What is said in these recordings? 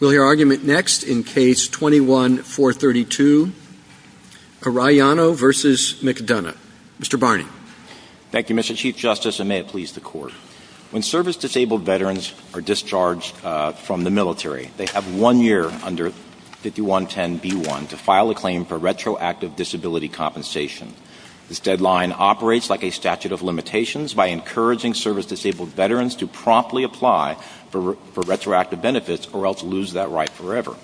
We'll hear argument next in Case 21-432, Arellano v. McDonough. Mr. Barney. Thank you, Mr. Chief Justice, and may it please the Court. When service-disabled veterans are discharged from the military, they have one year under 5110b1 to file a claim for retroactive disability compensation. This deadline operates like a statute of limitations by encouraging service-disabled veterans to promptly apply for retroactive benefits or else lose that right forever.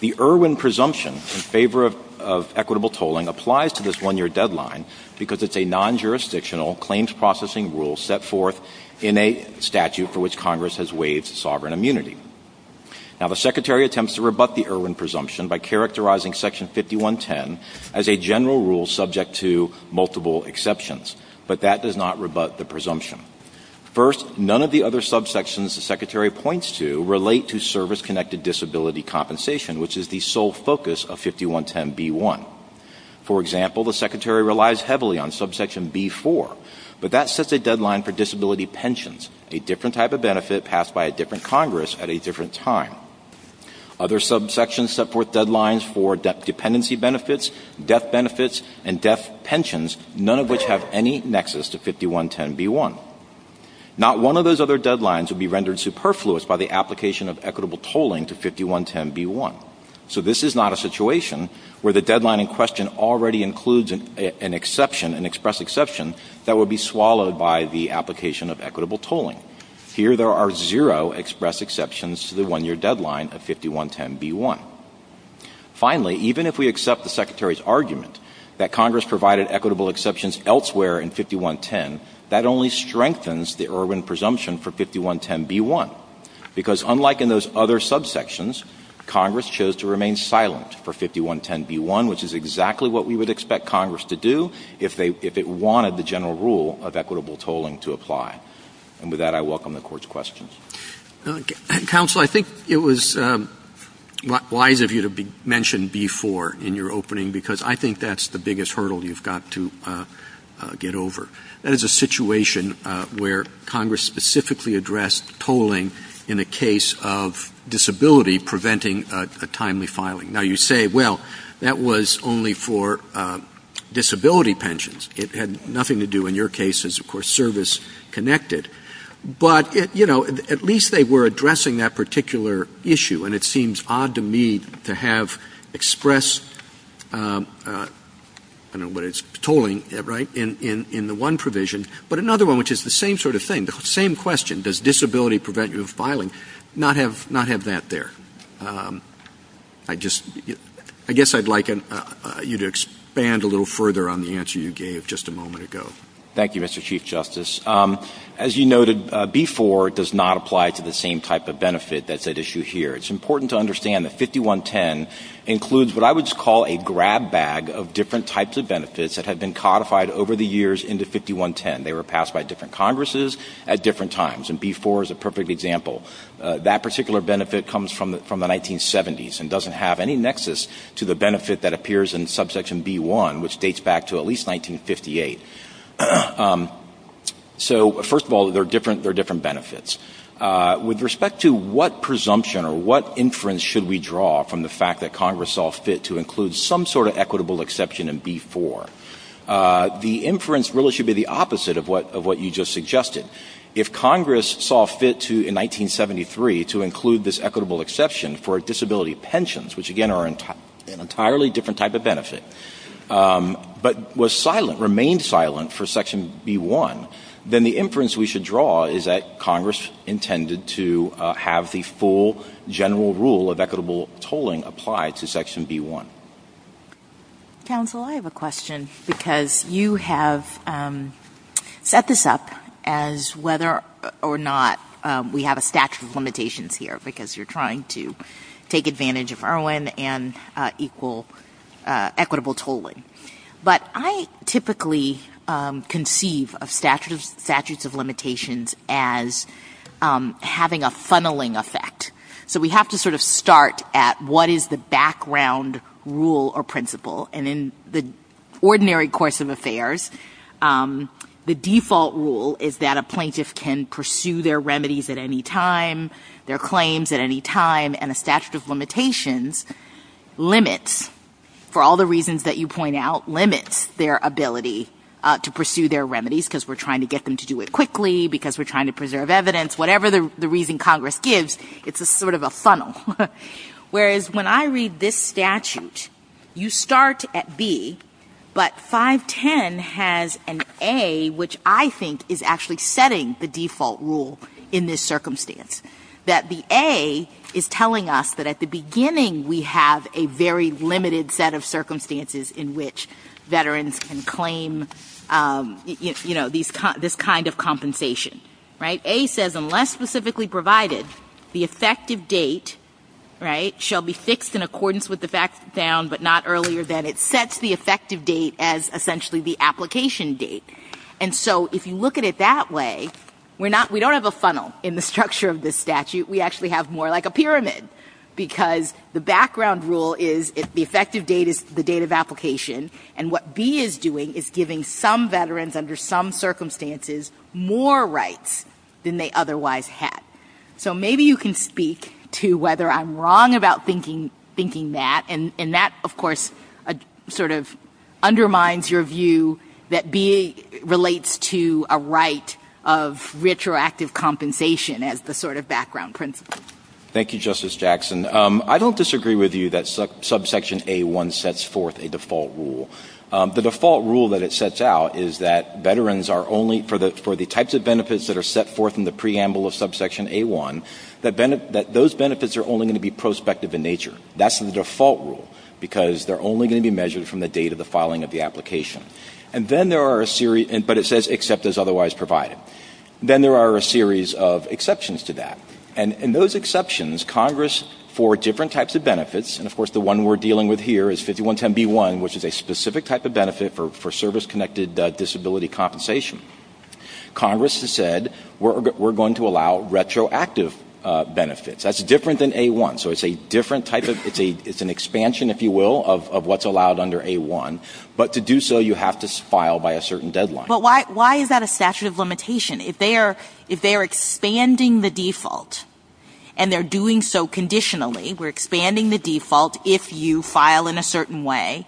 The Irwin presumption in favor of equitable tolling applies to this one-year deadline because it's a non-jurisdictional claims processing rule set forth in a statute for which Congress has waived sovereign immunity. Now, the Secretary attempts to rebut the Irwin presumption by characterizing Section 5110 as a general rule subject to multiple exceptions, but that does not rebut the presumption. First, none of the other subsections the Secretary points to relate to service-connected disability compensation, which is the sole focus of 5110b1. For example, the Secretary relies heavily on subsection b4, but that sets a deadline for disability pensions, a different type of benefit passed by a different Congress at a different time. Other subsections set forth deadlines for dependency benefits, death benefits, and death pensions, none of which have any nexus to 5110b1. Not one of those other deadlines would be rendered superfluous by the application of equitable tolling to 5110b1. So this is not a situation where the deadline in question already includes an exception, an express exception, that would be swallowed by the application of equitable tolling. Here there are zero express exceptions to the one-year deadline of 5110b1. Finally, even if we accept the Secretary's argument that Congress provided equitable exceptions elsewhere in 5110, that only strengthens the Irwin presumption for 5110b1, because unlike in those other subsections, Congress chose to remain silent for 5110b1, which is exactly what we would expect Congress to do if they — if it wanted the general rule of equitable tolling to apply. And with that, I welcome the Court's questions. Counsel, I think it was wise of you to mention B-4 in your opening, because I think that's the biggest hurdle you've got to get over. That is a situation where Congress specifically addressed tolling in the case of disability preventing a timely filing. Now, you say, well, that was only for disability pensions. It had nothing to do, in your cases, of course, service-connected. But, you know, at least they were addressing that particular issue. And it seems odd to me to have express — I don't know whether it's tolling, right, in the one provision. But another one, which is the same sort of thing, the same question, does disability prevent you from filing, not have that there. I just — I guess I'd like you to expand a little further on the answer you gave just a moment ago. Thank you, Mr. Chief Justice. As you noted, B-4 does not apply to the same type of benefit that's at issue here. It's important to understand that 5110 includes what I would call a grab bag of different types of benefits that have been codified over the years into 5110. They were passed by different Congresses at different times. And B-4 is a perfect example. That particular benefit comes from the 1970s and doesn't have any nexus to the benefit that appears in subsection B-1, which dates back to at least 1958. So first of all, they're different benefits. With respect to what presumption or what inference should we draw from the fact that Congress saw fit to include some sort of equitable exception in B-4, the inference really should be the opposite of what you just suggested. If Congress saw fit to, in 1973, to include this equitable exception for disability pensions, which again are an entirely different type of benefit, but was silent, remained silent for section B-1, then the inference we should draw is that Congress intended to have the full general rule of equitable tolling applied to section B-1. Counsel, I have a question because you have set this up as whether or not we have a statute of limitations here because you're trying to take advantage of IRWIN and equal equitable tolling. But I typically conceive of statutes of limitations as having a funneling effect. So we have to sort of start at what is the background rule or principle. And in the ordinary course of affairs, the default rule is that a plaintiff can pursue their remedies at any time, their claims at any time, and a statute of limits their ability to pursue their remedies because we're trying to get them to do it quickly, because we're trying to preserve evidence, whatever the reason Congress gives, it's a sort of a funnel. Whereas when I read this statute, you start at B, but 510 has an A, which I think is actually setting the default rule in this circumstance, that the A is telling us that at the beginning we have a very limited set of circumstances in which veterans can claim this kind of compensation. A says unless specifically provided, the effective date shall be fixed in accordance with the fact found but not earlier than it sets the effective date as essentially the application date. And so if you look at it that way, we don't have a funnel in the structure of this because the background rule is the effective date is the date of application and what B is doing is giving some veterans under some circumstances more rights than they otherwise had. So maybe you can speak to whether I'm wrong about thinking that, and that, of course, sort of undermines your view that B relates to a right of retroactive compensation as the sort of background principle. Thank you, Justice Jackson. I don't disagree with you that subsection A1 sets forth a default rule. The default rule that it sets out is that veterans are only, for the types of benefits that are set forth in the preamble of subsection A1, that those benefits are only going to be prospective in nature. That's the default rule because they're only going to be measured from the date of the filing of the application. And then there are a series, but it says except as otherwise provided. Then there are a series of exceptions to that. And those exceptions, Congress, for different types of benefits, and, of course, the one we're dealing with here is 5110B1, which is a specific type of benefit for service-connected disability compensation. Congress has said we're going to allow retroactive benefits. That's different than A1. So it's a different type of ‑‑ it's an expansion, if you will, of what's allowed under A1. But to do so, you have to file by a certain deadline. But why is that a statute of limitation? If they are expanding the default and they're doing so conditionally, we're expanding the default if you file in a certain way,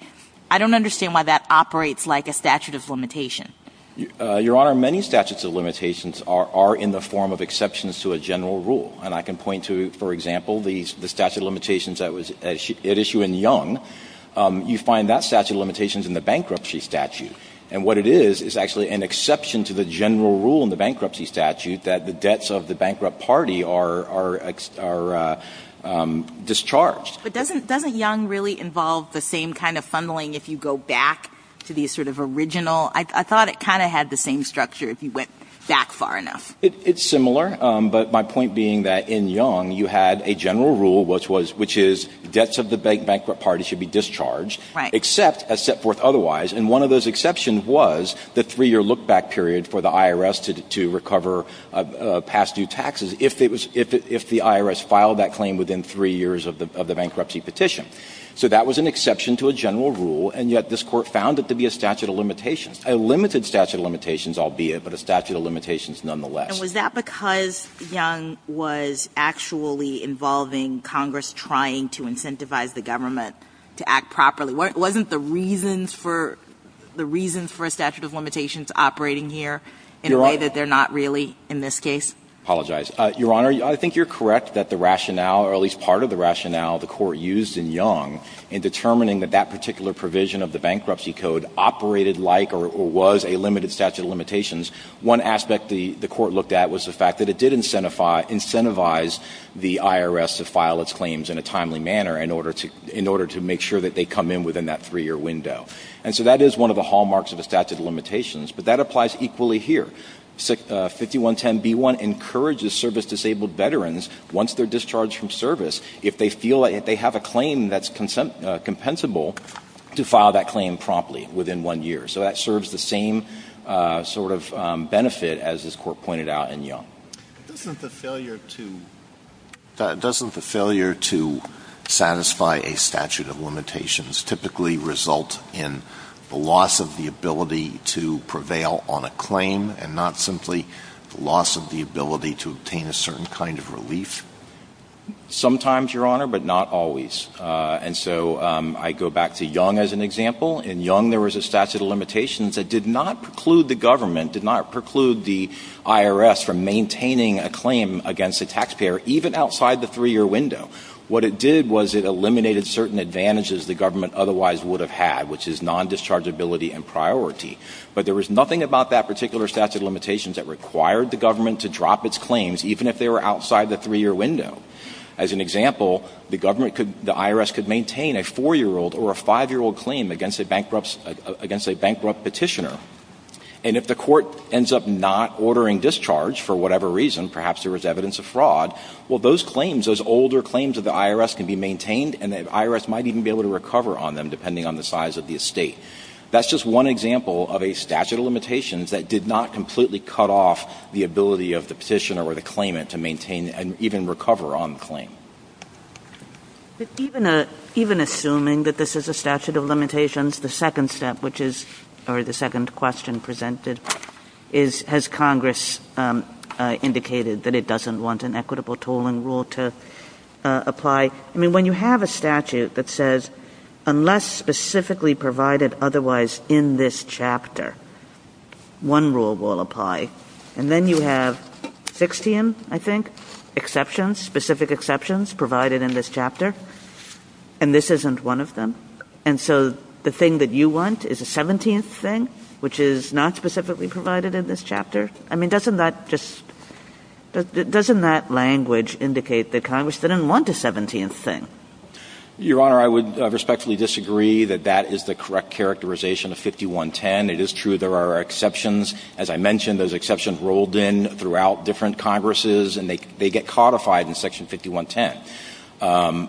I don't understand why that operates like a statute of limitation. Your Honor, many statutes of limitations are in the form of exceptions to a general rule. And I can point to, for example, the statute of limitations that was at issue in Young. You find that statute of limitations in the bankruptcy statute. And what it is is actually an exception to the general rule in the bankruptcy statute that the debts of the bankrupt party are discharged. But doesn't Young really involve the same kind of funneling if you go back to the sort of original? I thought it kind of had the same structure if you went back far enough. It's similar. But my point being that in Young you had a general rule, which is debts of the bankrupt party should be discharged. Right. Except as set forth otherwise. And one of those exceptions was the three-year look-back period for the IRS to recover past due taxes if the IRS filed that claim within three years of the bankruptcy petition. So that was an exception to a general rule, and yet this Court found it to be a statute of limitations. A limited statute of limitations, albeit, but a statute of limitations nonetheless. And was that because Young was actually involving Congress trying to incentivize the government to act properly? Wasn't the reasons for a statute of limitations operating here in a way that they're not really in this case? I apologize. Your Honor, I think you're correct that the rationale, or at least part of the rationale the Court used in Young in determining that that particular provision of the bankruptcy code operated like or was a limited statute of limitations. One aspect the Court looked at was the fact that it did incentivize the IRS to file its claims in a timely manner in order to make sure that they come in within that three-year window. And so that is one of the hallmarks of a statute of limitations. But that applies equally here. 5110B1 encourages service-disabled veterans, once they're discharged from service, if they feel that they have a claim that's compensable, to file that claim promptly within one year. So that serves the same sort of benefit, as this Court pointed out in Young. Doesn't the failure to satisfy a statute of limitations typically result in the loss of the ability to prevail on a claim and not simply the loss of the ability to obtain a certain kind of relief? Sometimes, Your Honor, but not always. And so I go back to Young as an example. In Young, there was a statute of limitations that did not preclude the government, did not preclude the IRS from maintaining a claim against a taxpayer, even outside the three-year window. What it did was it eliminated certain advantages the government otherwise would have had, which is non-dischargeability and priority. But there was nothing about that particular statute of limitations that required the government to drop its claims, even if they were outside the three-year window. As an example, the government could — the IRS could maintain a four-year-old or a five-year-old claim against a bankrupt — against a bankrupt petitioner. And if the court ends up not ordering discharge for whatever reason, perhaps there was evidence of fraud, well, those claims, those older claims of the IRS can be maintained, and the IRS might even be able to recover on them, depending on the size of the estate. That's just one example of a statute of limitations that did not completely cut off the ability of the petitioner or the claimant to maintain and even recover on the claim. But even a — even assuming that this is a statute of limitations, the second step, which is — or the second question presented is, has Congress indicated that it doesn't want an equitable tolling rule to apply? I mean, when you have a statute that says, unless specifically provided otherwise in this chapter, one rule will apply, and then you have 16, I think, exceptions, specific exceptions, provided in this chapter, and this isn't one of them. And so the thing that you want is a 17th thing, which is not specifically provided in this chapter? I mean, doesn't that just — doesn't that language indicate that Congress didn't want a 17th thing? Your Honor, I would respectfully disagree that that is the correct characterization of 5110. It is true there are exceptions. As I mentioned, there's exceptions rolled in throughout different Congresses, and they get codified in Section 5110.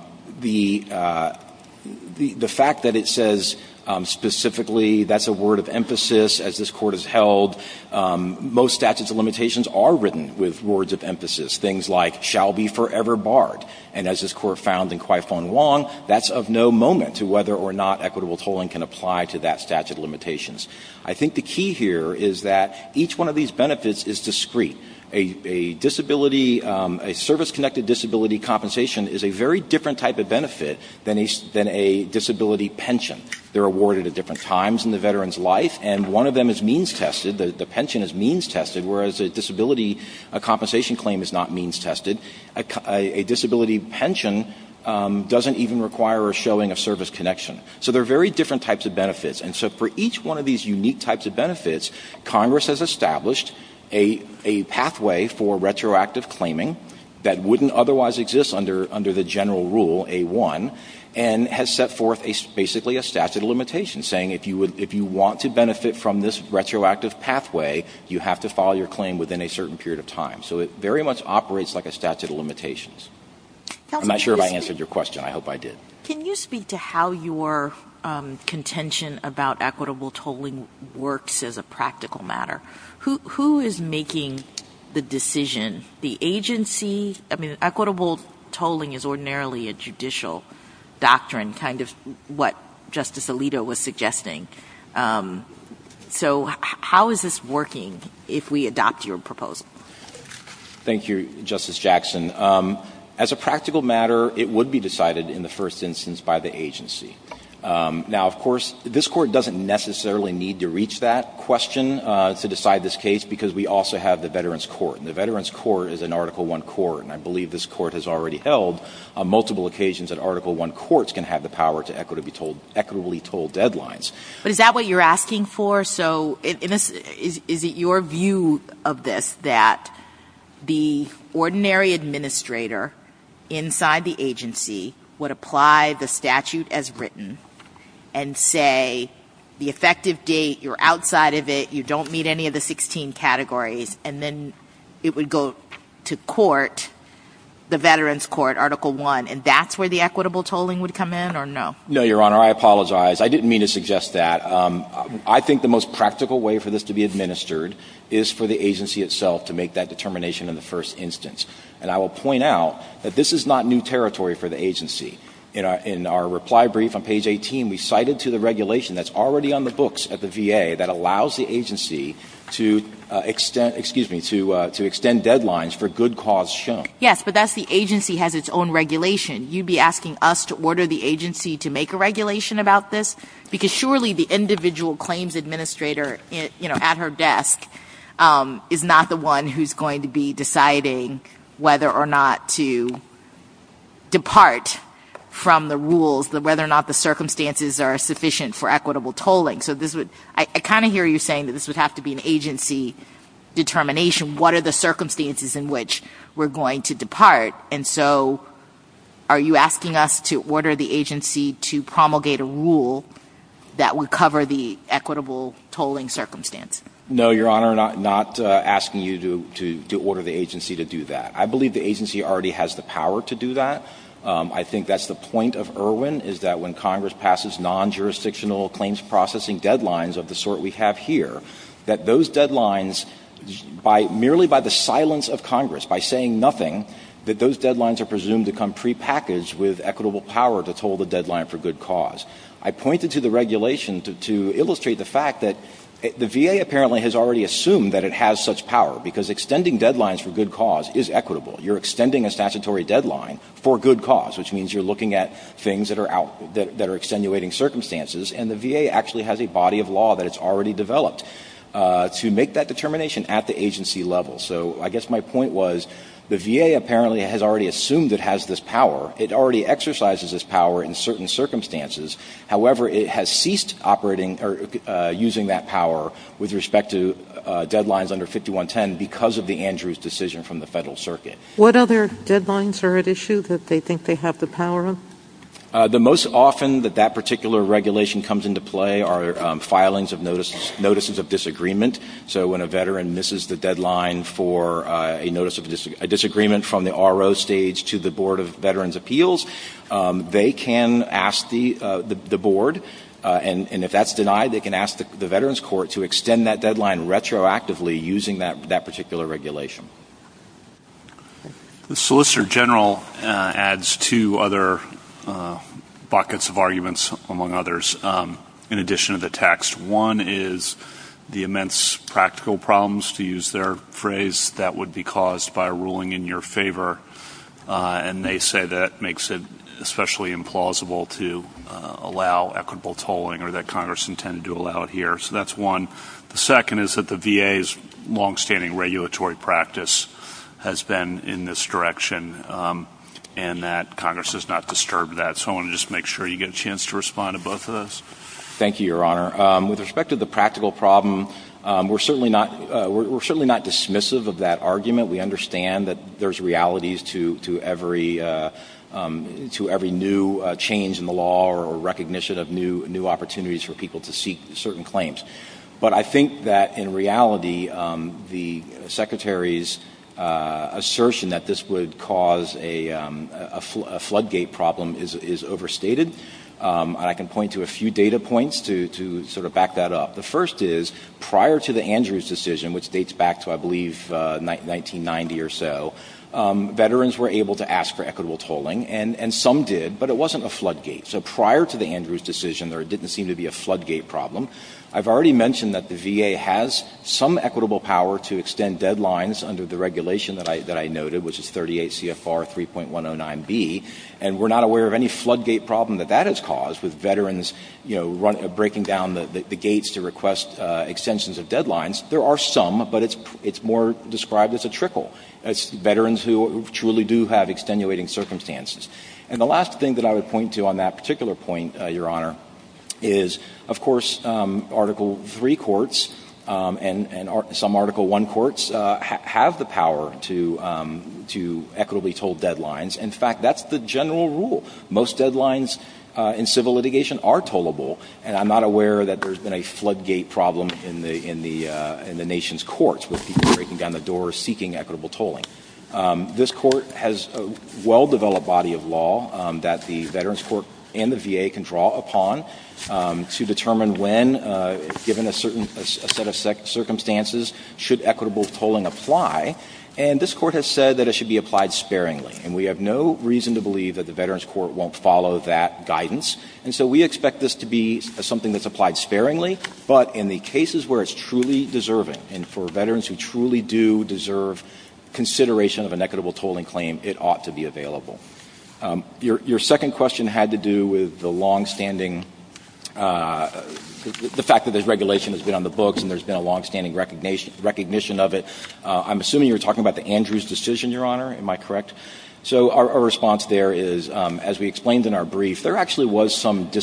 The fact that it says specifically that's a word of emphasis, as this Court has held, most statutes of limitations are written with words of emphasis, things like, shall be forever barred. And as this Court found in Quy Phuong Hoang, that's of no moment to whether or not equitable tolling can apply to that statute of limitations. I think the key here is that each one of these benefits is discrete. A disability — a service-connected disability compensation is a very different type of benefit than a disability pension. They're awarded at different times in the veteran's life, and one of them is means-tested. The pension is means-tested, whereas a disability compensation claim is not means-tested. A disability pension doesn't even require a showing of service connection. So there are very different types of benefits. And so for each one of these unique types of benefits, Congress has established a pathway for retroactive claiming that wouldn't otherwise exist under the general rule, A-1, and has set forth basically a statute of limitations, saying if you want to benefit from this retroactive pathway, you have to file your claim within a certain period of time. So it very much operates like a statute of limitations. I'm not sure if I answered your question. I hope I did. Can you speak to how your contention about equitable tolling works as a practical matter? Who is making the decision, the agency? I mean, equitable tolling is ordinarily a judicial doctrine, kind of what Justice Alito was suggesting. So how is this working if we adopt your proposal? Thank you, Justice Jackson. As a practical matter, it would be decided in the first instance by the agency. Now, of course, this Court doesn't necessarily need to reach that question to decide this case, because we also have the Veterans Court. And the Veterans Court is an Article I court, and I believe this Court has already held on multiple occasions that Article I courts can have the power to equitably toll deadlines. But is that what you're asking for? Is it your view of this that the ordinary administrator inside the agency would apply the statute as written and say the effective date, you're outside of it, you don't meet any of the 16 categories, and then it would go to court, the Veterans Court, Article I, and that's where the equitable tolling would come in, or no? No, Your Honor. I apologize. I didn't mean to suggest that. I think the most practical way for this to be administered is for the agency itself to make that determination in the first instance. And I will point out that this is not new territory for the agency. In our reply brief on page 18, we cited to the regulation that's already on the books at the VA that allows the agency to extend deadlines for good cause shown. Yes, but that's the agency has its own regulation. You'd be asking us to order the agency to make a regulation about this? Because surely the individual claims administrator at her desk is not the one who's going to be deciding whether or not to depart from the rules, whether or not the circumstances are sufficient for equitable tolling. So I kind of hear you saying that this would have to be an agency determination. What are the circumstances in which we're going to depart? And so are you asking us to order the agency to promulgate a rule that would cover the equitable tolling circumstance? No, Your Honor. I'm not asking you to order the agency to do that. I believe the agency already has the power to do that. I think that's the point of Erwin, is that when Congress passes non-jurisdictional claims processing deadlines of the sort we have here, that those deadlines, merely by the silence of Congress, by saying nothing, that those deadlines are presumed to come prepackaged with equitable power to toll the deadline for good cause. I pointed to the regulation to illustrate the fact that the VA apparently has already assumed that it has such power, because extending deadlines for good cause is equitable. You're extending a statutory deadline for good cause, which means you're looking at things that are extenuating circumstances, and the VA actually has a body of law that it's already developed to make that determination at the agency level. So I guess my point was the VA apparently has already assumed it has this power. It already exercises this power in certain circumstances. However, it has ceased operating or using that power with respect to deadlines under 5110 because of the Andrews decision from the federal circuit. What other deadlines are at issue that they think they have the power on? The most often that that particular regulation comes into play are filings of notices of disagreement. So when a veteran misses the deadline for a notice of disagreement from the RO stage to the Board of Veterans' Appeals, they can ask the board, and if that's denied, they can ask the veterans court to extend that deadline retroactively using that particular regulation. The Solicitor General adds two other buckets of arguments, among others, in addition to the text. One is the immense practical problems, to use their phrase, that would be caused by a ruling in your favor, and they say that makes it especially implausible to allow equitable tolling or that Congress intended to allow it here. So that's one. The second is that the VA's longstanding regulatory practice has been in this direction and that Congress has not disturbed that. So I want to just make sure you get a chance to respond to both of those. Thank you, Your Honor. With respect to the practical problem, we're certainly not dismissive of that argument. We understand that there's realities to every new change in the law or recognition of new opportunities for people to seek certain claims. But I think that, in reality, the Secretary's assertion that this would cause a floodgate problem is overstated, and I can point to a few data points to sort of back that up. The first is, prior to the Andrews decision, which dates back to, I believe, 1990 or so, veterans were able to ask for equitable tolling, and some did, but it wasn't a floodgate. So prior to the Andrews decision, there didn't seem to be a floodgate problem. I've already mentioned that the VA has some equitable power to extend deadlines under the regulation that I noted, which is 38 CFR 3.109B. And we're not aware of any floodgate problem that that has caused with veterans, you know, breaking down the gates to request extensions of deadlines. There are some, but it's more described as a trickle. It's veterans who truly do have extenuating circumstances. And the last thing that I would point to on that particular point, Your Honor, is, of course, Article III courts and some Article I courts have the power to equitably toll deadlines. In fact, that's the general rule. Most deadlines in civil litigation are tollable, and I'm not aware that there's been a floodgate problem in the nation's courts with people breaking down the doors seeking equitable tolling. This Court has a well-developed body of law that the Veterans Court and the VA can draw upon to determine when, given a certain set of circumstances, should equitable tolling apply. And this Court has said that it should be applied sparingly, and we have no reason to believe that the Veterans Court won't follow that guidance. And so we expect this to be something that's applied sparingly, but in the cases where it's truly deserving and for veterans who truly do deserve consideration of an equitable tolling claim, it ought to be available. Your second question had to do with the longstanding – the fact that this regulation has been on the books and there's been a longstanding recognition of it. I'm assuming you're talking about the Andrews decision, Your Honor. Am I correct? So our response there is, as we explained in our brief, there actually was some among the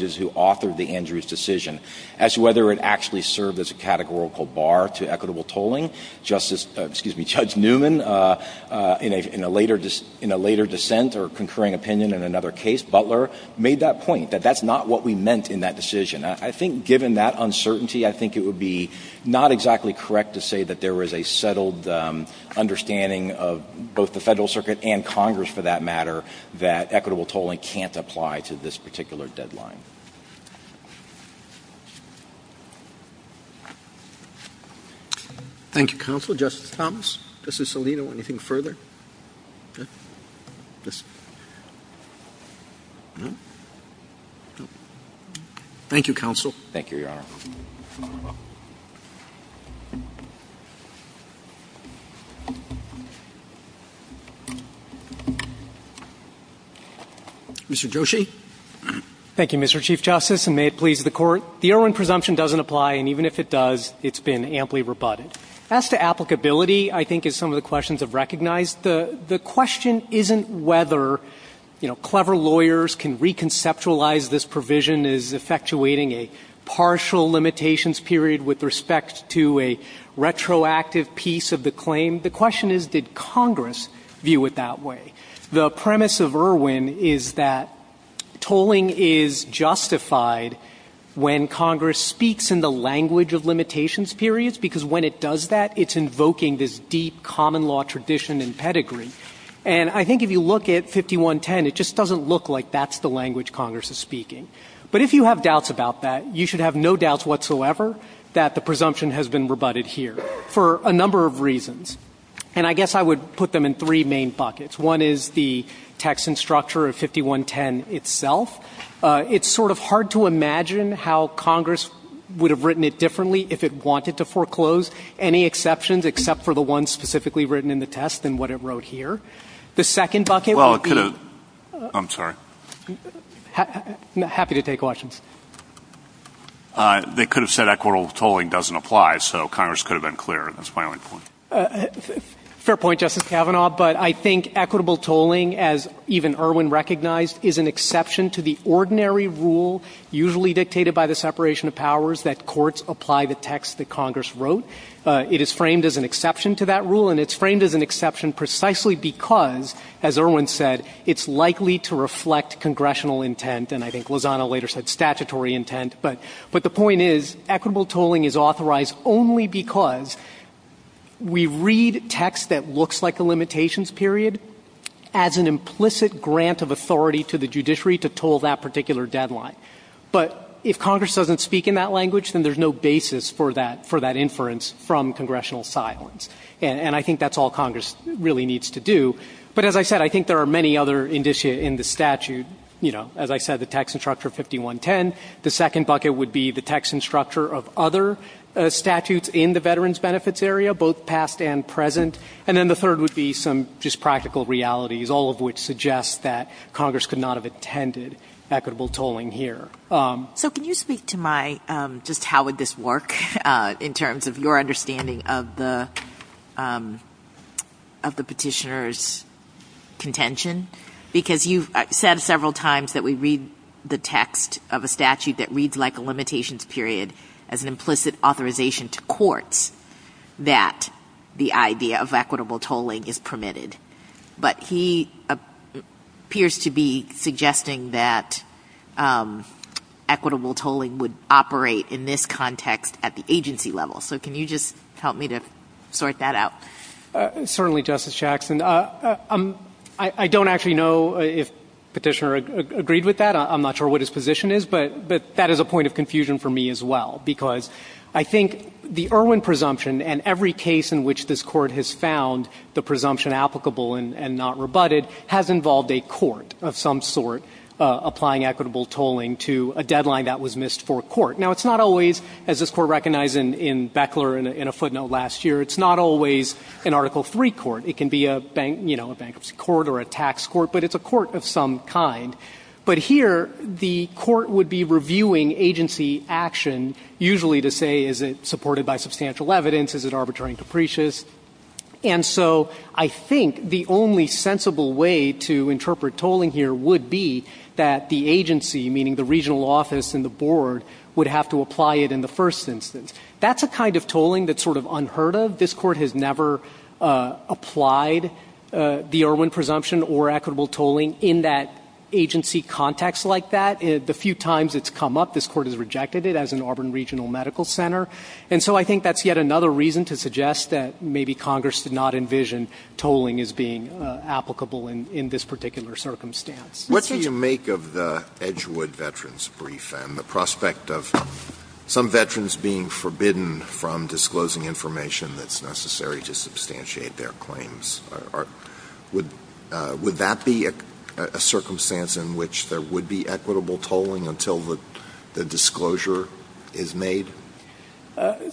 judges who authored the Andrews decision as to whether it actually served as a categorical bar to equitable tolling. Justice – excuse me, Judge Newman, in a later – in a later dissent or concurring opinion in another case, Butler, made that point, that that's not what we meant in that decision. I think given that uncertainty, I think it would be not exactly correct to say that there is a settled understanding of both the Federal Circuit and Congress, for that particular deadline. Thank you, Counsel. Justice Thomas, Justice Alito, anything further? Thank you, Counsel. Thank you, Your Honor. Mr. Joshi. Thank you, Mr. Chief Justice, and may it please the Court. The Erwin presumption doesn't apply, and even if it does, it's been amply rebutted. As to applicability, I think as some of the questions have recognized, the question isn't whether, you know, clever lawyers can reconceptualize this provision as effectuating a partial limitations period with respect to a retroactive piece of the claim. The question is, did Congress view it that way? The premise of Erwin is that tolling is justified when Congress speaks in the language of limitations periods, because when it does that, it's invoking this deep common law tradition and pedigree. And I think if you look at 5110, it just doesn't look like that's the language Congress is speaking. But if you have doubts about that, you should have no doubts whatsoever that the presumption has been rebutted here for a number of reasons. And I guess I would put them in three main buckets. One is the text and structure of 5110 itself. It's sort of hard to imagine how Congress would have written it differently if it wanted to foreclose, any exceptions except for the ones specifically written in the test and what it wrote here. The second bucket would be the other. I'm happy to take questions. They could have said equitable tolling doesn't apply. So Congress could have been clearer. That's my only point. Fair point, Justice Kavanaugh. But I think equitable tolling, as even Erwin recognized, is an exception to the ordinary rule usually dictated by the separation of powers that courts apply the text that Congress wrote. It is framed as an exception to that rule, and it's framed as an exception precisely because, as Erwin said, it's likely to reflect congressional intent and I think Lozano later said statutory intent. But the point is equitable tolling is authorized only because we read text that looks like a limitations period as an implicit grant of authority to the judiciary to toll that particular deadline. But if Congress doesn't speak in that language, then there's no basis for that inference from congressional silence. And I think that's all Congress really needs to do. But as I said, I think there are many other indicia in the statute. You know, as I said, the text and structure of 5110. The second bucket would be the text and structure of other statutes in the veterans benefits area, both past and present. And then the third would be some just practical realities, all of which suggest that Congress could not have intended equitable tolling here. So can you speak to my just how would this work in terms of your understanding of the Petitioner's contention? Because you've said several times that we read the text of a statute that reads like a limitations period as an implicit authorization to courts that the idea of equitable tolling is permitted. But he appears to be suggesting that equitable tolling would operate in this context at the agency level. So can you just help me to sort that out? Certainly, Justice Jackson. I don't actually know if Petitioner agreed with that. I'm not sure what his position is. But that is a point of confusion for me as well, because I think the Irwin presumption and every case in which this Court has found the presumption applicable and not rebutted has involved a court of some sort applying equitable tolling to a deadline that was missed for a court. Now, it's not always, as this Court recognized in Beckler in a footnote last year, it's not always an Article III court. It can be a bankruptcy court or a tax court, but it's a court of some kind. But here the court would be reviewing agency action, usually to say is it supported by substantial evidence, is it arbitrary and capricious. And so I think the only sensible way to interpret tolling here would be that the agency, meaning the regional office and the board, would have to apply it in the first instance. That's a kind of tolling that's sort of unheard of. This Court has never applied the Irwin presumption or equitable tolling in that agency context like that. The few times it's come up, this Court has rejected it as an Auburn regional medical center. And so I think that's yet another reason to suggest that maybe Congress did not envision tolling as being applicable in this particular circumstance. What do you make of the Edgewood veterans brief and the prospect of some veterans being forbidden from disclosing information that's necessary to substantiate their claims? Would that be a circumstance in which there would be equitable tolling until the disclosure is made?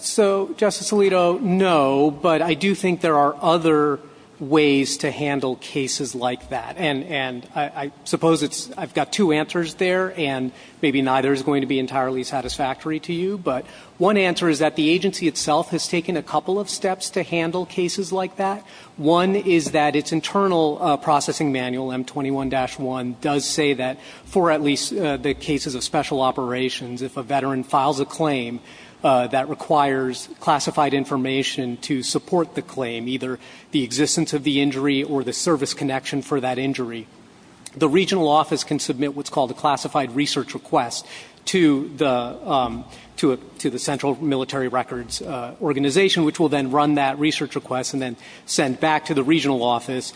So, Justice Alito, no. But I do think there are other ways to handle cases like that. And I suppose I've got two answers there, and maybe neither is going to be entirely satisfactory to you. But one answer is that the agency itself has taken a couple of steps to handle cases like that. One is that its internal processing manual, M21-1, does say that for at least the cases of special operations, if a veteran files a claim that requires classified information to support the claim, either the existence of the injury or the service connection for that injury, the regional office can submit what's called a classified research request to the central military records organization, which will then run that research request and then send back to the regional office,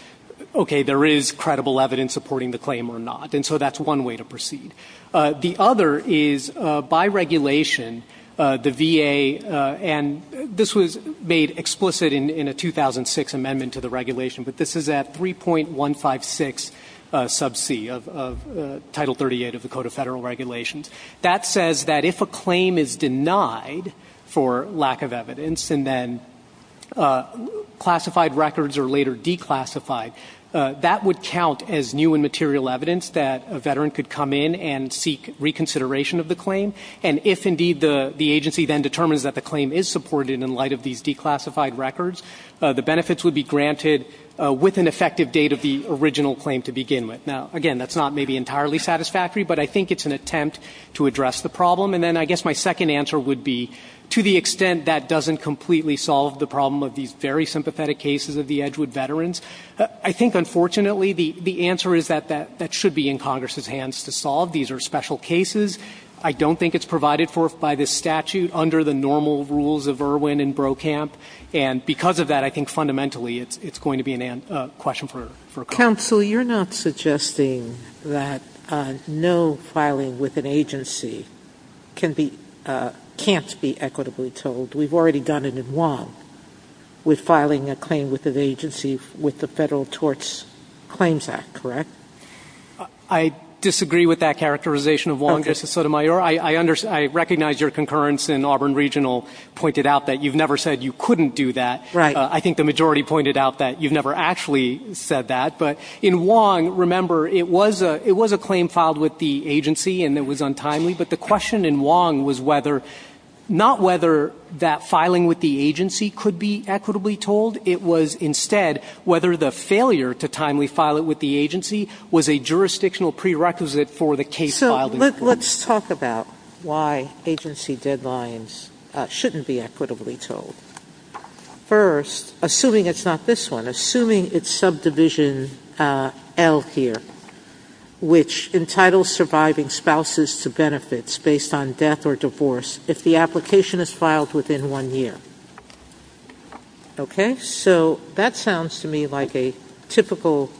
okay, there is credible evidence supporting the claim or not. And so that's one way to proceed. The other is, by regulation, the VA, and this was made explicit in a 2006 amendment to the regulation, but this is at 3.156 sub C of Title 38 of the Code of Federal Regulations, that says that if a claim is denied for lack of evidence and then classified records are later declassified, that would count as new and material evidence that a veteran could come in and seek reconsideration of the claim. And if, indeed, the agency then determines that the claim is supported in light of these declassified records, the benefits would be granted with an effective date of the original claim to begin with. Now, again, that's not maybe entirely satisfactory, but I think it's an attempt to address the problem. And then I guess my second answer would be, to the extent that doesn't completely solve the problem of these very sympathetic cases of the Edgewood veterans, I think unfortunately the answer is that that should be in Congress's hands to solve. These are special cases. And because of that, I think fundamentally, it's going to be a question for Congress. never had a claim with an agency. You've never had a claim with the Federal Torts Claims Act, correct? I disagree with that characterization of Wong v. Sotomayor. I recognize your concurrence in Auburn Regional pointed out that you've never had a claim with the Federal Torts Claims Act. You've never said you couldn't do that. Right. I think the majority pointed out that you've never actually said that. But in Wong, remember, it was a claim filed with the agency and it was untimely. But the question in Wong was not whether that filing with the agency could be equitably told. It was, instead, whether the failure to timely file it with the agency was a jurisdictional prerequisite for the case filed. Let's talk about why agency deadlines shouldn't be equitably told. First, assuming it's not this one, assuming it's subdivision L here, which entitles surviving spouses to benefits based on death or divorce if the application is filed within one year. Okay? So that sounds to me like a typical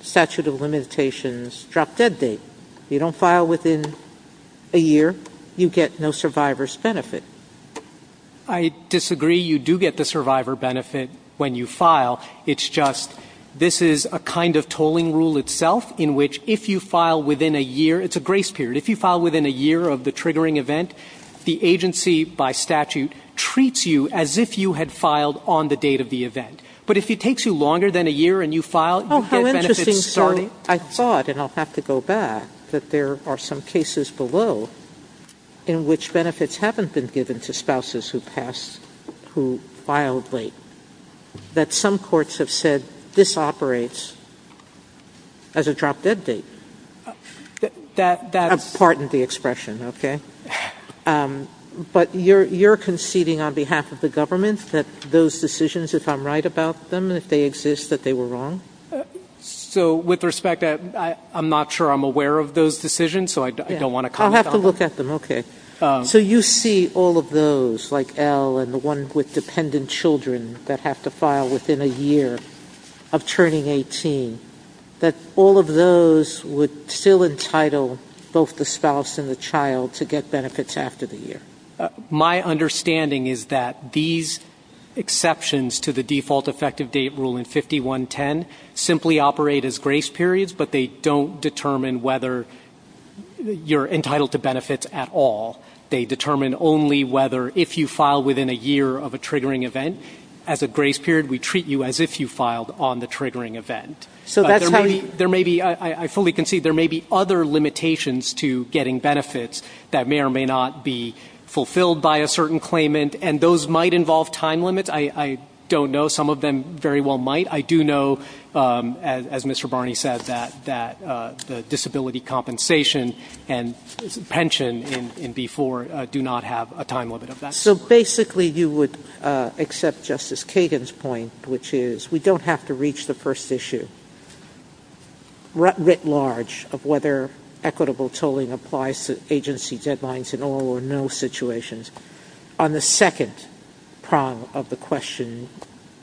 statute of limitations drop-dead date. You don't file within a year, you get no survivor's benefit. I disagree. You do get the survivor benefit when you file. It's just this is a kind of tolling rule itself in which if you file within a year – it's a grace period. If you file within a year of the triggering event, the agency, by statute, treats you as if you had filed on the date of the event. But if it takes you longer than a year and you file, you get benefits starting I thought, and I'll have to go back, that there are some cases below in which benefits haven't been given to spouses who passed, who filed late, that some courts have said this operates as a drop-dead date. I pardon the expression, okay? But you're conceding on behalf of the government that those decisions, if I'm right about them, if they exist, that they were wrong? So with respect, I'm not sure I'm aware of those decisions, so I don't want to confound them. I'll have to look at them, okay. So you see all of those, like L and the one with dependent children that have to file within a year of turning 18, that all of those would still entitle both the spouse and the child to get benefits after the year? My understanding is that these exceptions to the default effective date rule in 5110 simply operate as grace periods, but they don't determine whether you're entitled to benefits at all. They determine only whether if you file within a year of a triggering event as a grace period, we treat you as if you filed on the triggering event. But there may be, I fully concede, there may be other limitations to getting benefits that may or may not be fulfilled by a certain claimant, and those might involve time limits. I don't know. Some of them very well might. I do know, as Mr. Barney said, that the disability compensation and pension in B-4 do not have a time limit of that sort. So basically you would accept Justice Kagan's point, which is we don't have to reach the first issue writ large of whether equitable tolling applies to agency deadlines in all or no situations. On the second prong of the question,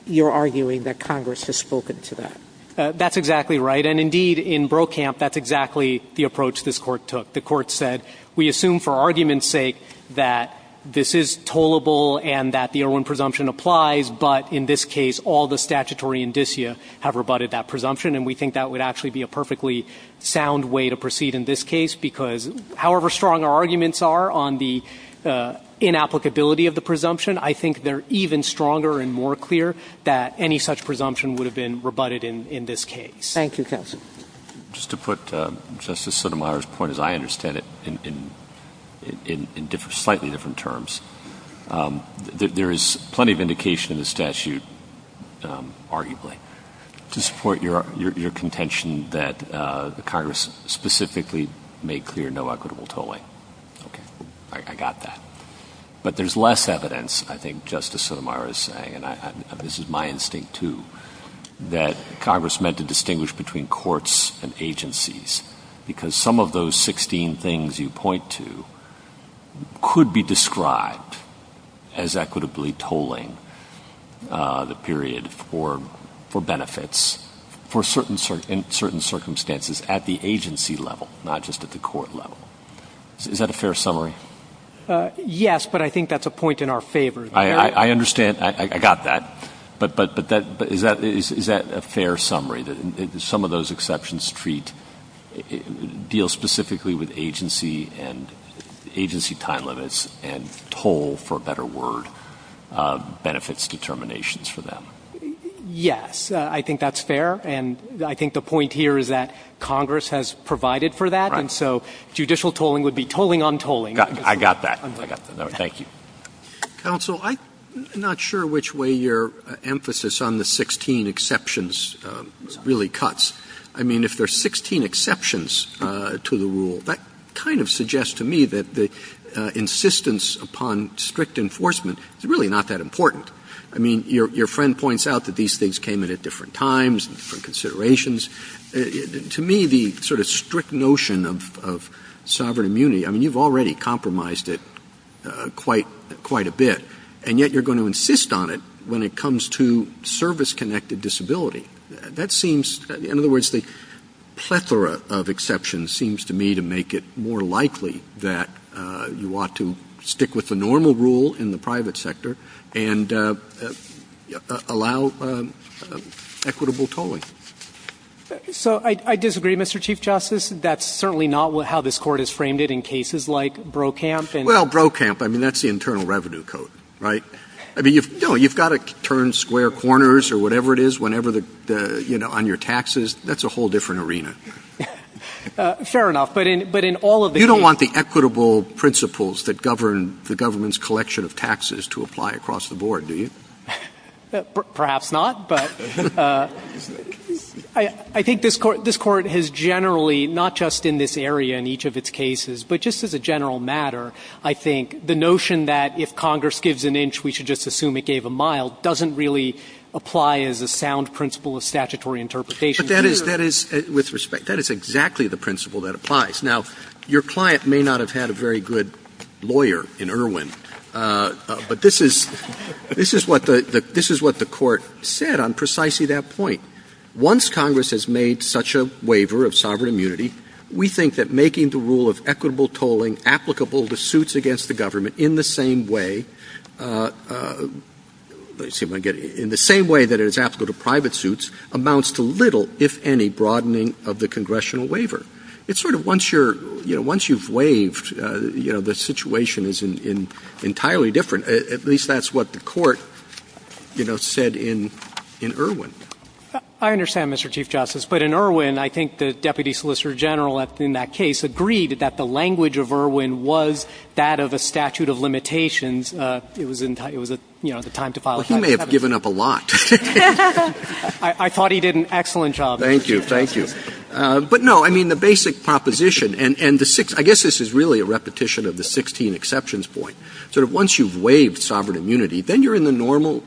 you're arguing that Congress has spoken to that. That's exactly right. And indeed, in Brokamp, that's exactly the approach this Court took. The Court said we assume for argument's sake that this is tollable and that the Erwin presumption applies, but in this case all the statutory indicia have rebutted that presumption. And we think that would actually be a perfectly sound way to proceed in this case because however strong our arguments are on the inapplicability of the presumption, I think they're even stronger and more clear that any such presumption would have been rebutted in this case. Thank you, counsel. Just to put Justice Sotomayor's point, as I understand it, in slightly different terms, there is plenty of indication in the statute, arguably, to support your contention that Congress specifically made clear no equitable tolling. Okay. I got that. But there's less evidence, I think Justice Sotomayor is saying, and this is my instinct too, that Congress meant to distinguish between courts and agencies because some of those 16 things you point to could be described as equitably tolling the period for benefits in certain circumstances at the agency level, not just at the court level. Is that a fair summary? Yes, but I think that's a point in our favor. I understand. I got that. But is that a fair summary, that some of those exceptions deal specifically with agency and agency time limits and toll, for a better word, benefits determinations for them? Yes. I think that's fair. And I think the point here is that Congress has provided for that. Right. And so judicial tolling would be tolling on tolling. I got that. I got that. Thank you. Counsel, I'm not sure which way your emphasis on the 16 exceptions really cuts. I mean, if there are 16 exceptions to the rule, that kind of suggests to me that the insistence upon strict enforcement is really not that important. I mean, your friend points out that these things came in at different times and different considerations. To me, the sort of strict notion of sovereign immunity, I mean, you've already compromised it quite a bit, and yet you're going to insist on it when it comes to service-connected disability. That seems, in other words, the plethora of exceptions seems to me to make it more difficult to allow equitable tolling. So I disagree, Mr. Chief Justice. That's certainly not how this Court has framed it in cases like Brokamp. Well, Brokamp, I mean, that's the Internal Revenue Code, right? I mean, no, you've got to turn square corners or whatever it is whenever the, you know, on your taxes. That's a whole different arena. Fair enough. But in all of the cases. You don't want the equitable principles that govern the government's collection of taxes to apply across the board, do you? Perhaps not, but I think this Court has generally, not just in this area in each of its cases, but just as a general matter, I think the notion that if Congress gives an inch, we should just assume it gave a mile doesn't really apply as a sound principle of statutory interpretation. But that is, with respect, that is exactly the principle that applies. Now, your client may not have had a very good lawyer in Irwin, but this is what the Court said on precisely that point. Once Congress has made such a waiver of sovereign immunity, we think that making the rule of equitable tolling applicable to suits against the government in the same way, let me see if I can get it, in the same way that it is applicable to private suits amounts to little, if any, broadening of the congressional waiver. It's sort of once you're, you know, once you've waived, you know, the situation is entirely different, at least that's what the Court, you know, said in Irwin. I understand, Mr. Chief Justice, but in Irwin, I think the Deputy Solicitor General in that case agreed that the language of Irwin was that of a statute of limitations. It was, you know, the time to file. Well, he may have given up a lot. I thought he did an excellent job. Thank you. But, no, I mean, the basic proposition, and the six, I guess this is really a repetition of the 16 exceptions point, sort of once you've waived sovereign immunity, then you're in the normal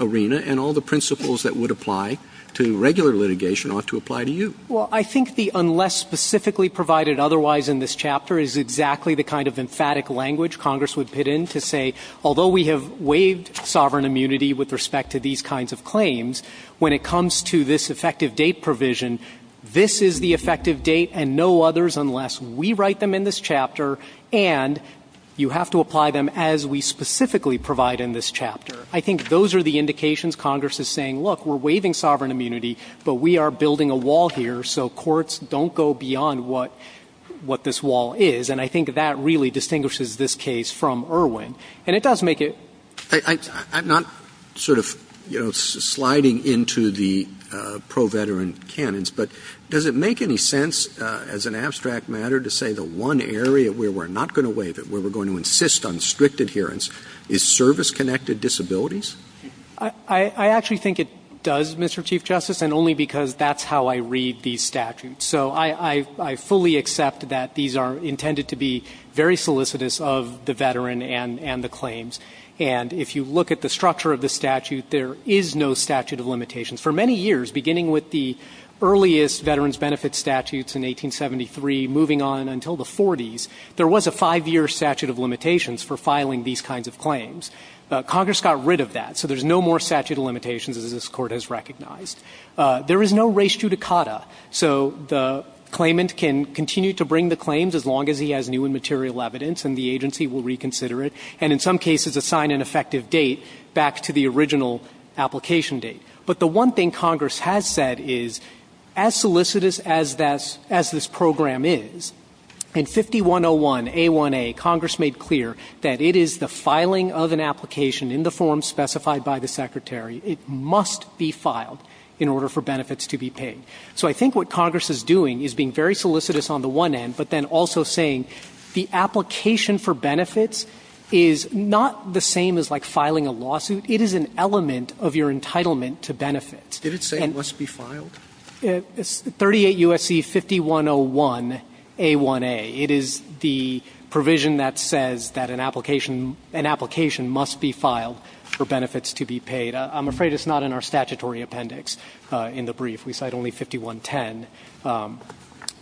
arena and all the principles that would apply to regular litigation ought to apply to you. Well, I think the unless specifically provided otherwise in this chapter is exactly the kind of emphatic language Congress would pit in to say, although we have waived sovereign immunity with respect to these kinds of claims, when it comes to this effective date provision, this is the effective date and no others unless we write them in this chapter, and you have to apply them as we specifically provide in this chapter. I think those are the indications Congress is saying, look, we're waiving sovereign immunity, but we are building a wall here, so courts don't go beyond what this wall is. And I think that really distinguishes this case from Irwin. And it does make it. Roberts. I'm not sort of, you know, sliding into the pro-veteran canons, but does it make any sense as an abstract matter to say the one area where we're not going to waive it, where we're going to insist on strict adherence, is service-connected disabilities? I actually think it does, Mr. Chief Justice, and only because that's how I read these statutes. So I fully accept that these are intended to be very solicitous of the veteran and the claims, and if you look at the structure of the statute, there is no statute of limitations. For many years, beginning with the earliest veterans' benefits statutes in 1873, moving on until the 40s, there was a 5-year statute of limitations for filing these kinds of claims. Congress got rid of that, so there's no more statute of limitations as this Court has recognized. There is no res judicata, so the claimant can continue to bring the claims as long as he has new and material evidence, and the agency will reconsider it, and in some cases assign an effective date back to the original application date. But the one thing Congress has said is, as solicitous as this program is, in 5101a1a, Congress made clear that it is the filing of an application in the form specified by the Secretary. It must be filed in order for benefits to be paid. So I think what Congress is doing is being very solicitous on the one end, but then also saying the application for benefits is not the same as, like, filing a lawsuit. It is an element of your entitlement to benefit. And it's 38 U.S.C. 5101a1a. It is the provision that says that an application must be filed for benefits to be paid. I'm afraid it's not in our statutory appendix in the brief. We cite only 5110.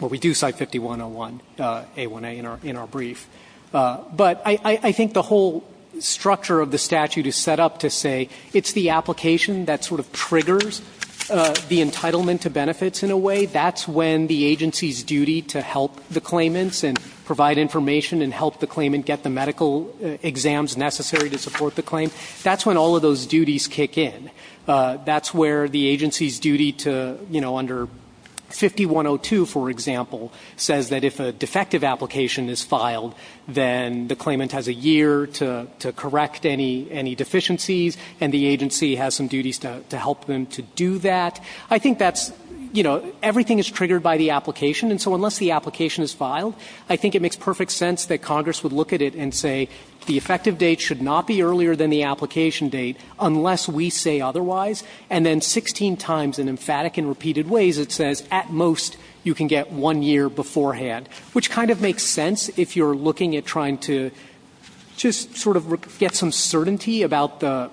But we do cite 5101a1a in our brief. But I think the whole structure of the statute is set up to say it's the application that sort of triggers the entitlement to benefits in a way. That's when the agency's duty to help the claimants and provide information and help the claimant get the medical exams necessary to support the claim. That's when all of those duties kick in. That's where the agency's duty to, you know, under 5102, for example, says that if a defective application is filed, then the claimant has a year to correct any deficiencies, and the agency has some duties to help them to do that. I think that's, you know, everything is triggered by the application. And so unless the application is filed, I think it makes perfect sense that Congress would look at it and say the effective date should not be earlier than the application date unless we say otherwise. And then 16 times, in emphatic and repeated ways, it says at most you can get one year beforehand, which kind of makes sense if you're looking at trying to just sort of get some certainty about the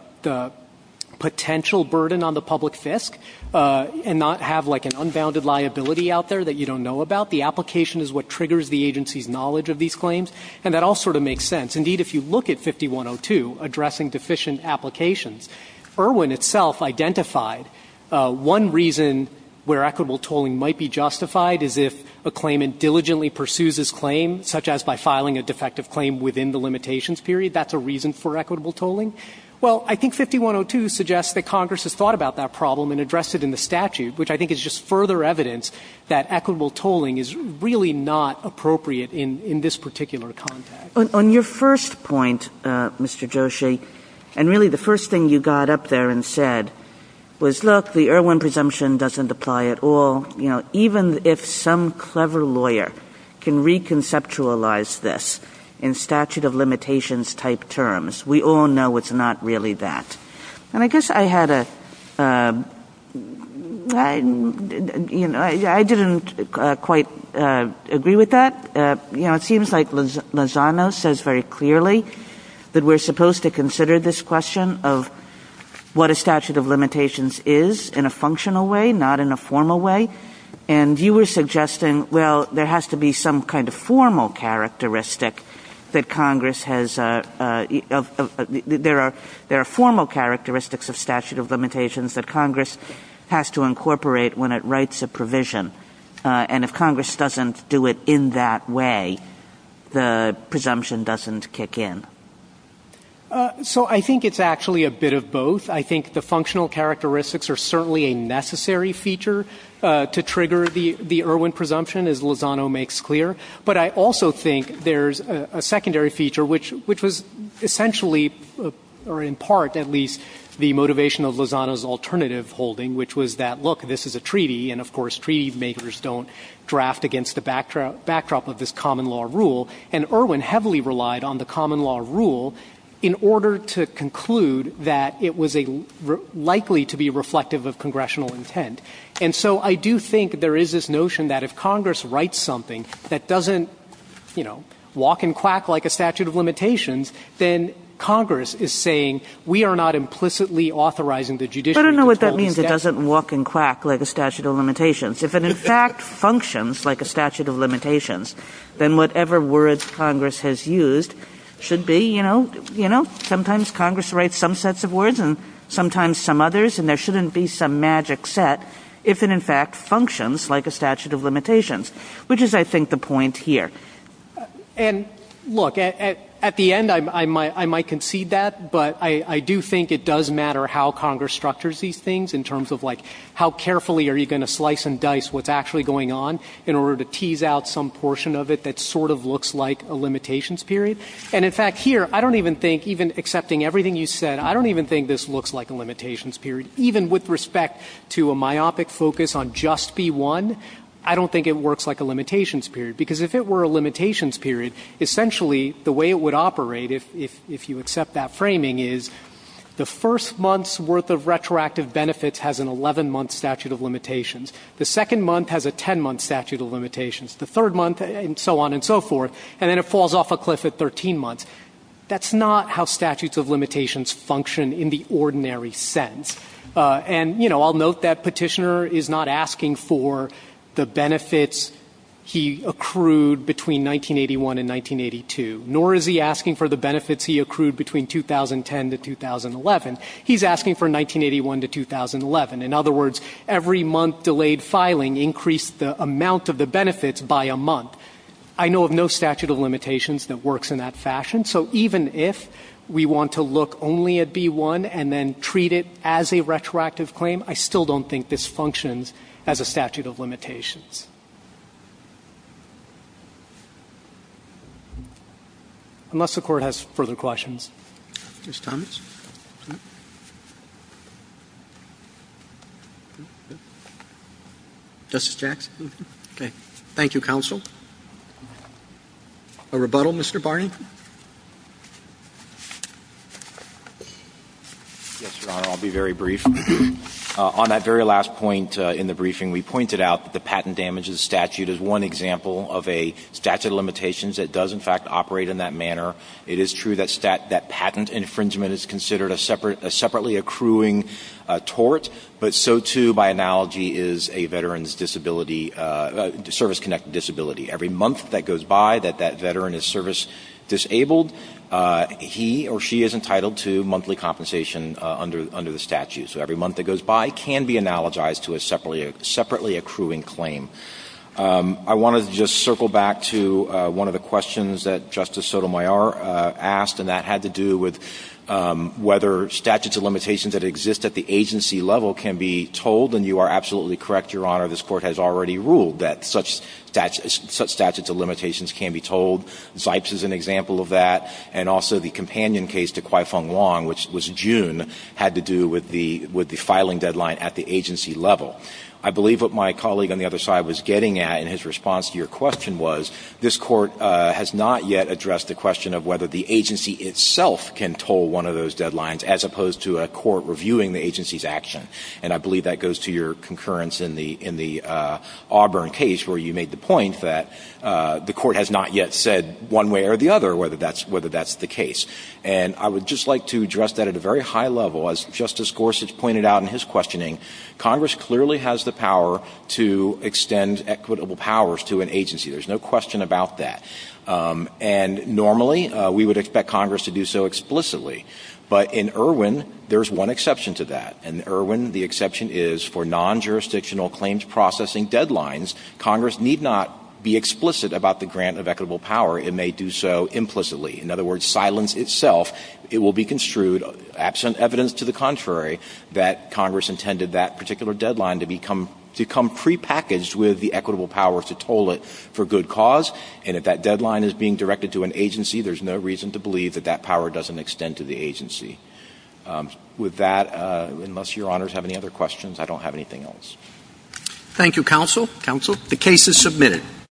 potential burden on the public fisc and not have like an unbounded liability out there that you don't know about. The application is what triggers the agency's knowledge of these claims. And that all sort of makes sense. Indeed, if you look at 5102 addressing deficient applications, Irwin itself identified one reason where equitable tolling might be justified is if a claimant diligently pursues his claim, such as by filing a defective claim within the limitations period, that's a reason for equitable tolling. Well, I think 5102 suggests that Congress has thought about that problem and addressed it in the statute, which I think is just further evidence that equitable tolling is really not appropriate in this particular context. On your first point, Mr. Joshi, and really the first thing you got up there and said was, look, the Irwin presumption doesn't apply at all. You know, even if some clever lawyer can reconceptualize this in statute of limitations type terms, we all know it's not really that. And I guess I had a, you know, I didn't quite agree with that. But, you know, it seems like Lozano says very clearly that we're supposed to consider this question of what a statute of limitations is in a functional way, not in a formal way. And you were suggesting, well, there has to be some kind of formal characteristic that Congress has, there are formal characteristics of statute of limitations that Congress has to incorporate when it writes a provision. And if Congress doesn't do it in that way, the presumption doesn't kick in. So I think it's actually a bit of both. I think the functional characteristics are certainly a necessary feature to trigger the Irwin presumption, as Lozano makes clear. But I also think there's a secondary feature, which was essentially, or in part at least, the motivation of Lozano's alternative holding, which was that, look, this is a treaty, and, of course, treaty makers don't draft against the backdrop of this common law rule. And Irwin heavily relied on the common law rule in order to conclude that it was likely to be reflective of congressional intent. And so I do think there is this notion that if Congress writes something that doesn't, you know, walk and quack like a statute of limitations, then Congress is saying I don't know what that means. It doesn't walk and quack like a statute of limitations. If it in fact functions like a statute of limitations, then whatever words Congress has used should be, you know, you know, sometimes Congress writes some sets of words and sometimes some others, and there shouldn't be some magic set if it in fact functions like a statute of limitations, which is, I think, the point here. And, look, at the end, I might concede that, but I do think it does matter how Congress constructs these things in terms of, like, how carefully are you going to slice and dice what's actually going on in order to tease out some portion of it that sort of looks like a limitations period. And, in fact, here, I don't even think, even accepting everything you said, I don't even think this looks like a limitations period. Even with respect to a myopic focus on just be one, I don't think it works like a limitations period, because if it were a limitations period, essentially the way it would operate if you accept that framing is the first month's worth of retroactive benefits has an 11-month statute of limitations. The second month has a 10-month statute of limitations. The third month, and so on and so forth. And then it falls off a cliff at 13 months. That's not how statutes of limitations function in the ordinary sense. And, you know, I'll note that Petitioner is not asking for the benefits he accrued between 1981 and 1982. Nor is he asking for the benefits he accrued between 2010 to 2011. He's asking for 1981 to 2011. In other words, every month delayed filing increased the amount of the benefits by a month. I know of no statute of limitations that works in that fashion. So even if we want to look only at be one and then treat it as a retroactive claim, I still don't think this functions as a statute of limitations. Unless the Court has further questions. Roberts. Justice Jackson. Okay. Thank you, counsel. A rebuttal, Mr. Barney. Yes, Your Honor. I'll be very brief. On that very last point in the briefing, we pointed out that the patent damage of the statute is one example of a statute of limitations that does, in fact, operate in that manner. It is true that patent infringement is considered a separately accruing tort. But so, too, by analogy is a veteran's disability, service-connected disability. Every month that goes by that that veteran is service-disabled, he or she is entitled to monthly compensation under the statute. So every month that goes by can be analogized to a separately accruing claim. I want to just circle back to one of the questions that Justice Sotomayor asked, and that had to do with whether statutes of limitations that exist at the agency level can be told, and you are absolutely correct, Your Honor, this Court has already ruled that such statutes of limitations can be told. Zipes is an example of that. And also the companion case to Kwai Fong Wong, which was June, had to do with the filing deadline at the agency level. I believe what my colleague on the other side was getting at in his response to your question was this Court has not yet addressed the question of whether the agency itself can toll one of those deadlines as opposed to a court reviewing the agency's action. And I believe that goes to your concurrence in the Auburn case where you made the point that the Court has not yet said one way or the other whether that's the case. And I would just like to address that at a very high level. As Justice Gorsuch pointed out in his questioning, Congress clearly has the power to extend equitable powers to an agency. There's no question about that. And normally we would expect Congress to do so explicitly. But in Irwin, there's one exception to that. In Irwin, the exception is for non-jurisdictional claims processing deadlines, Congress need not be explicit about the grant of equitable power. It may do so implicitly. In other words, silence itself, it will be construed, absent evidence to the contrary, that Congress intended that particular deadline to become prepackaged with the equitable power to toll it for good cause. And if that deadline is being directed to an agency, there's no reason to believe that that power doesn't extend to the agency. With that, unless Your Honors have any other questions, I don't have anything Thank you, Counsel. Counsel. The case is submitted.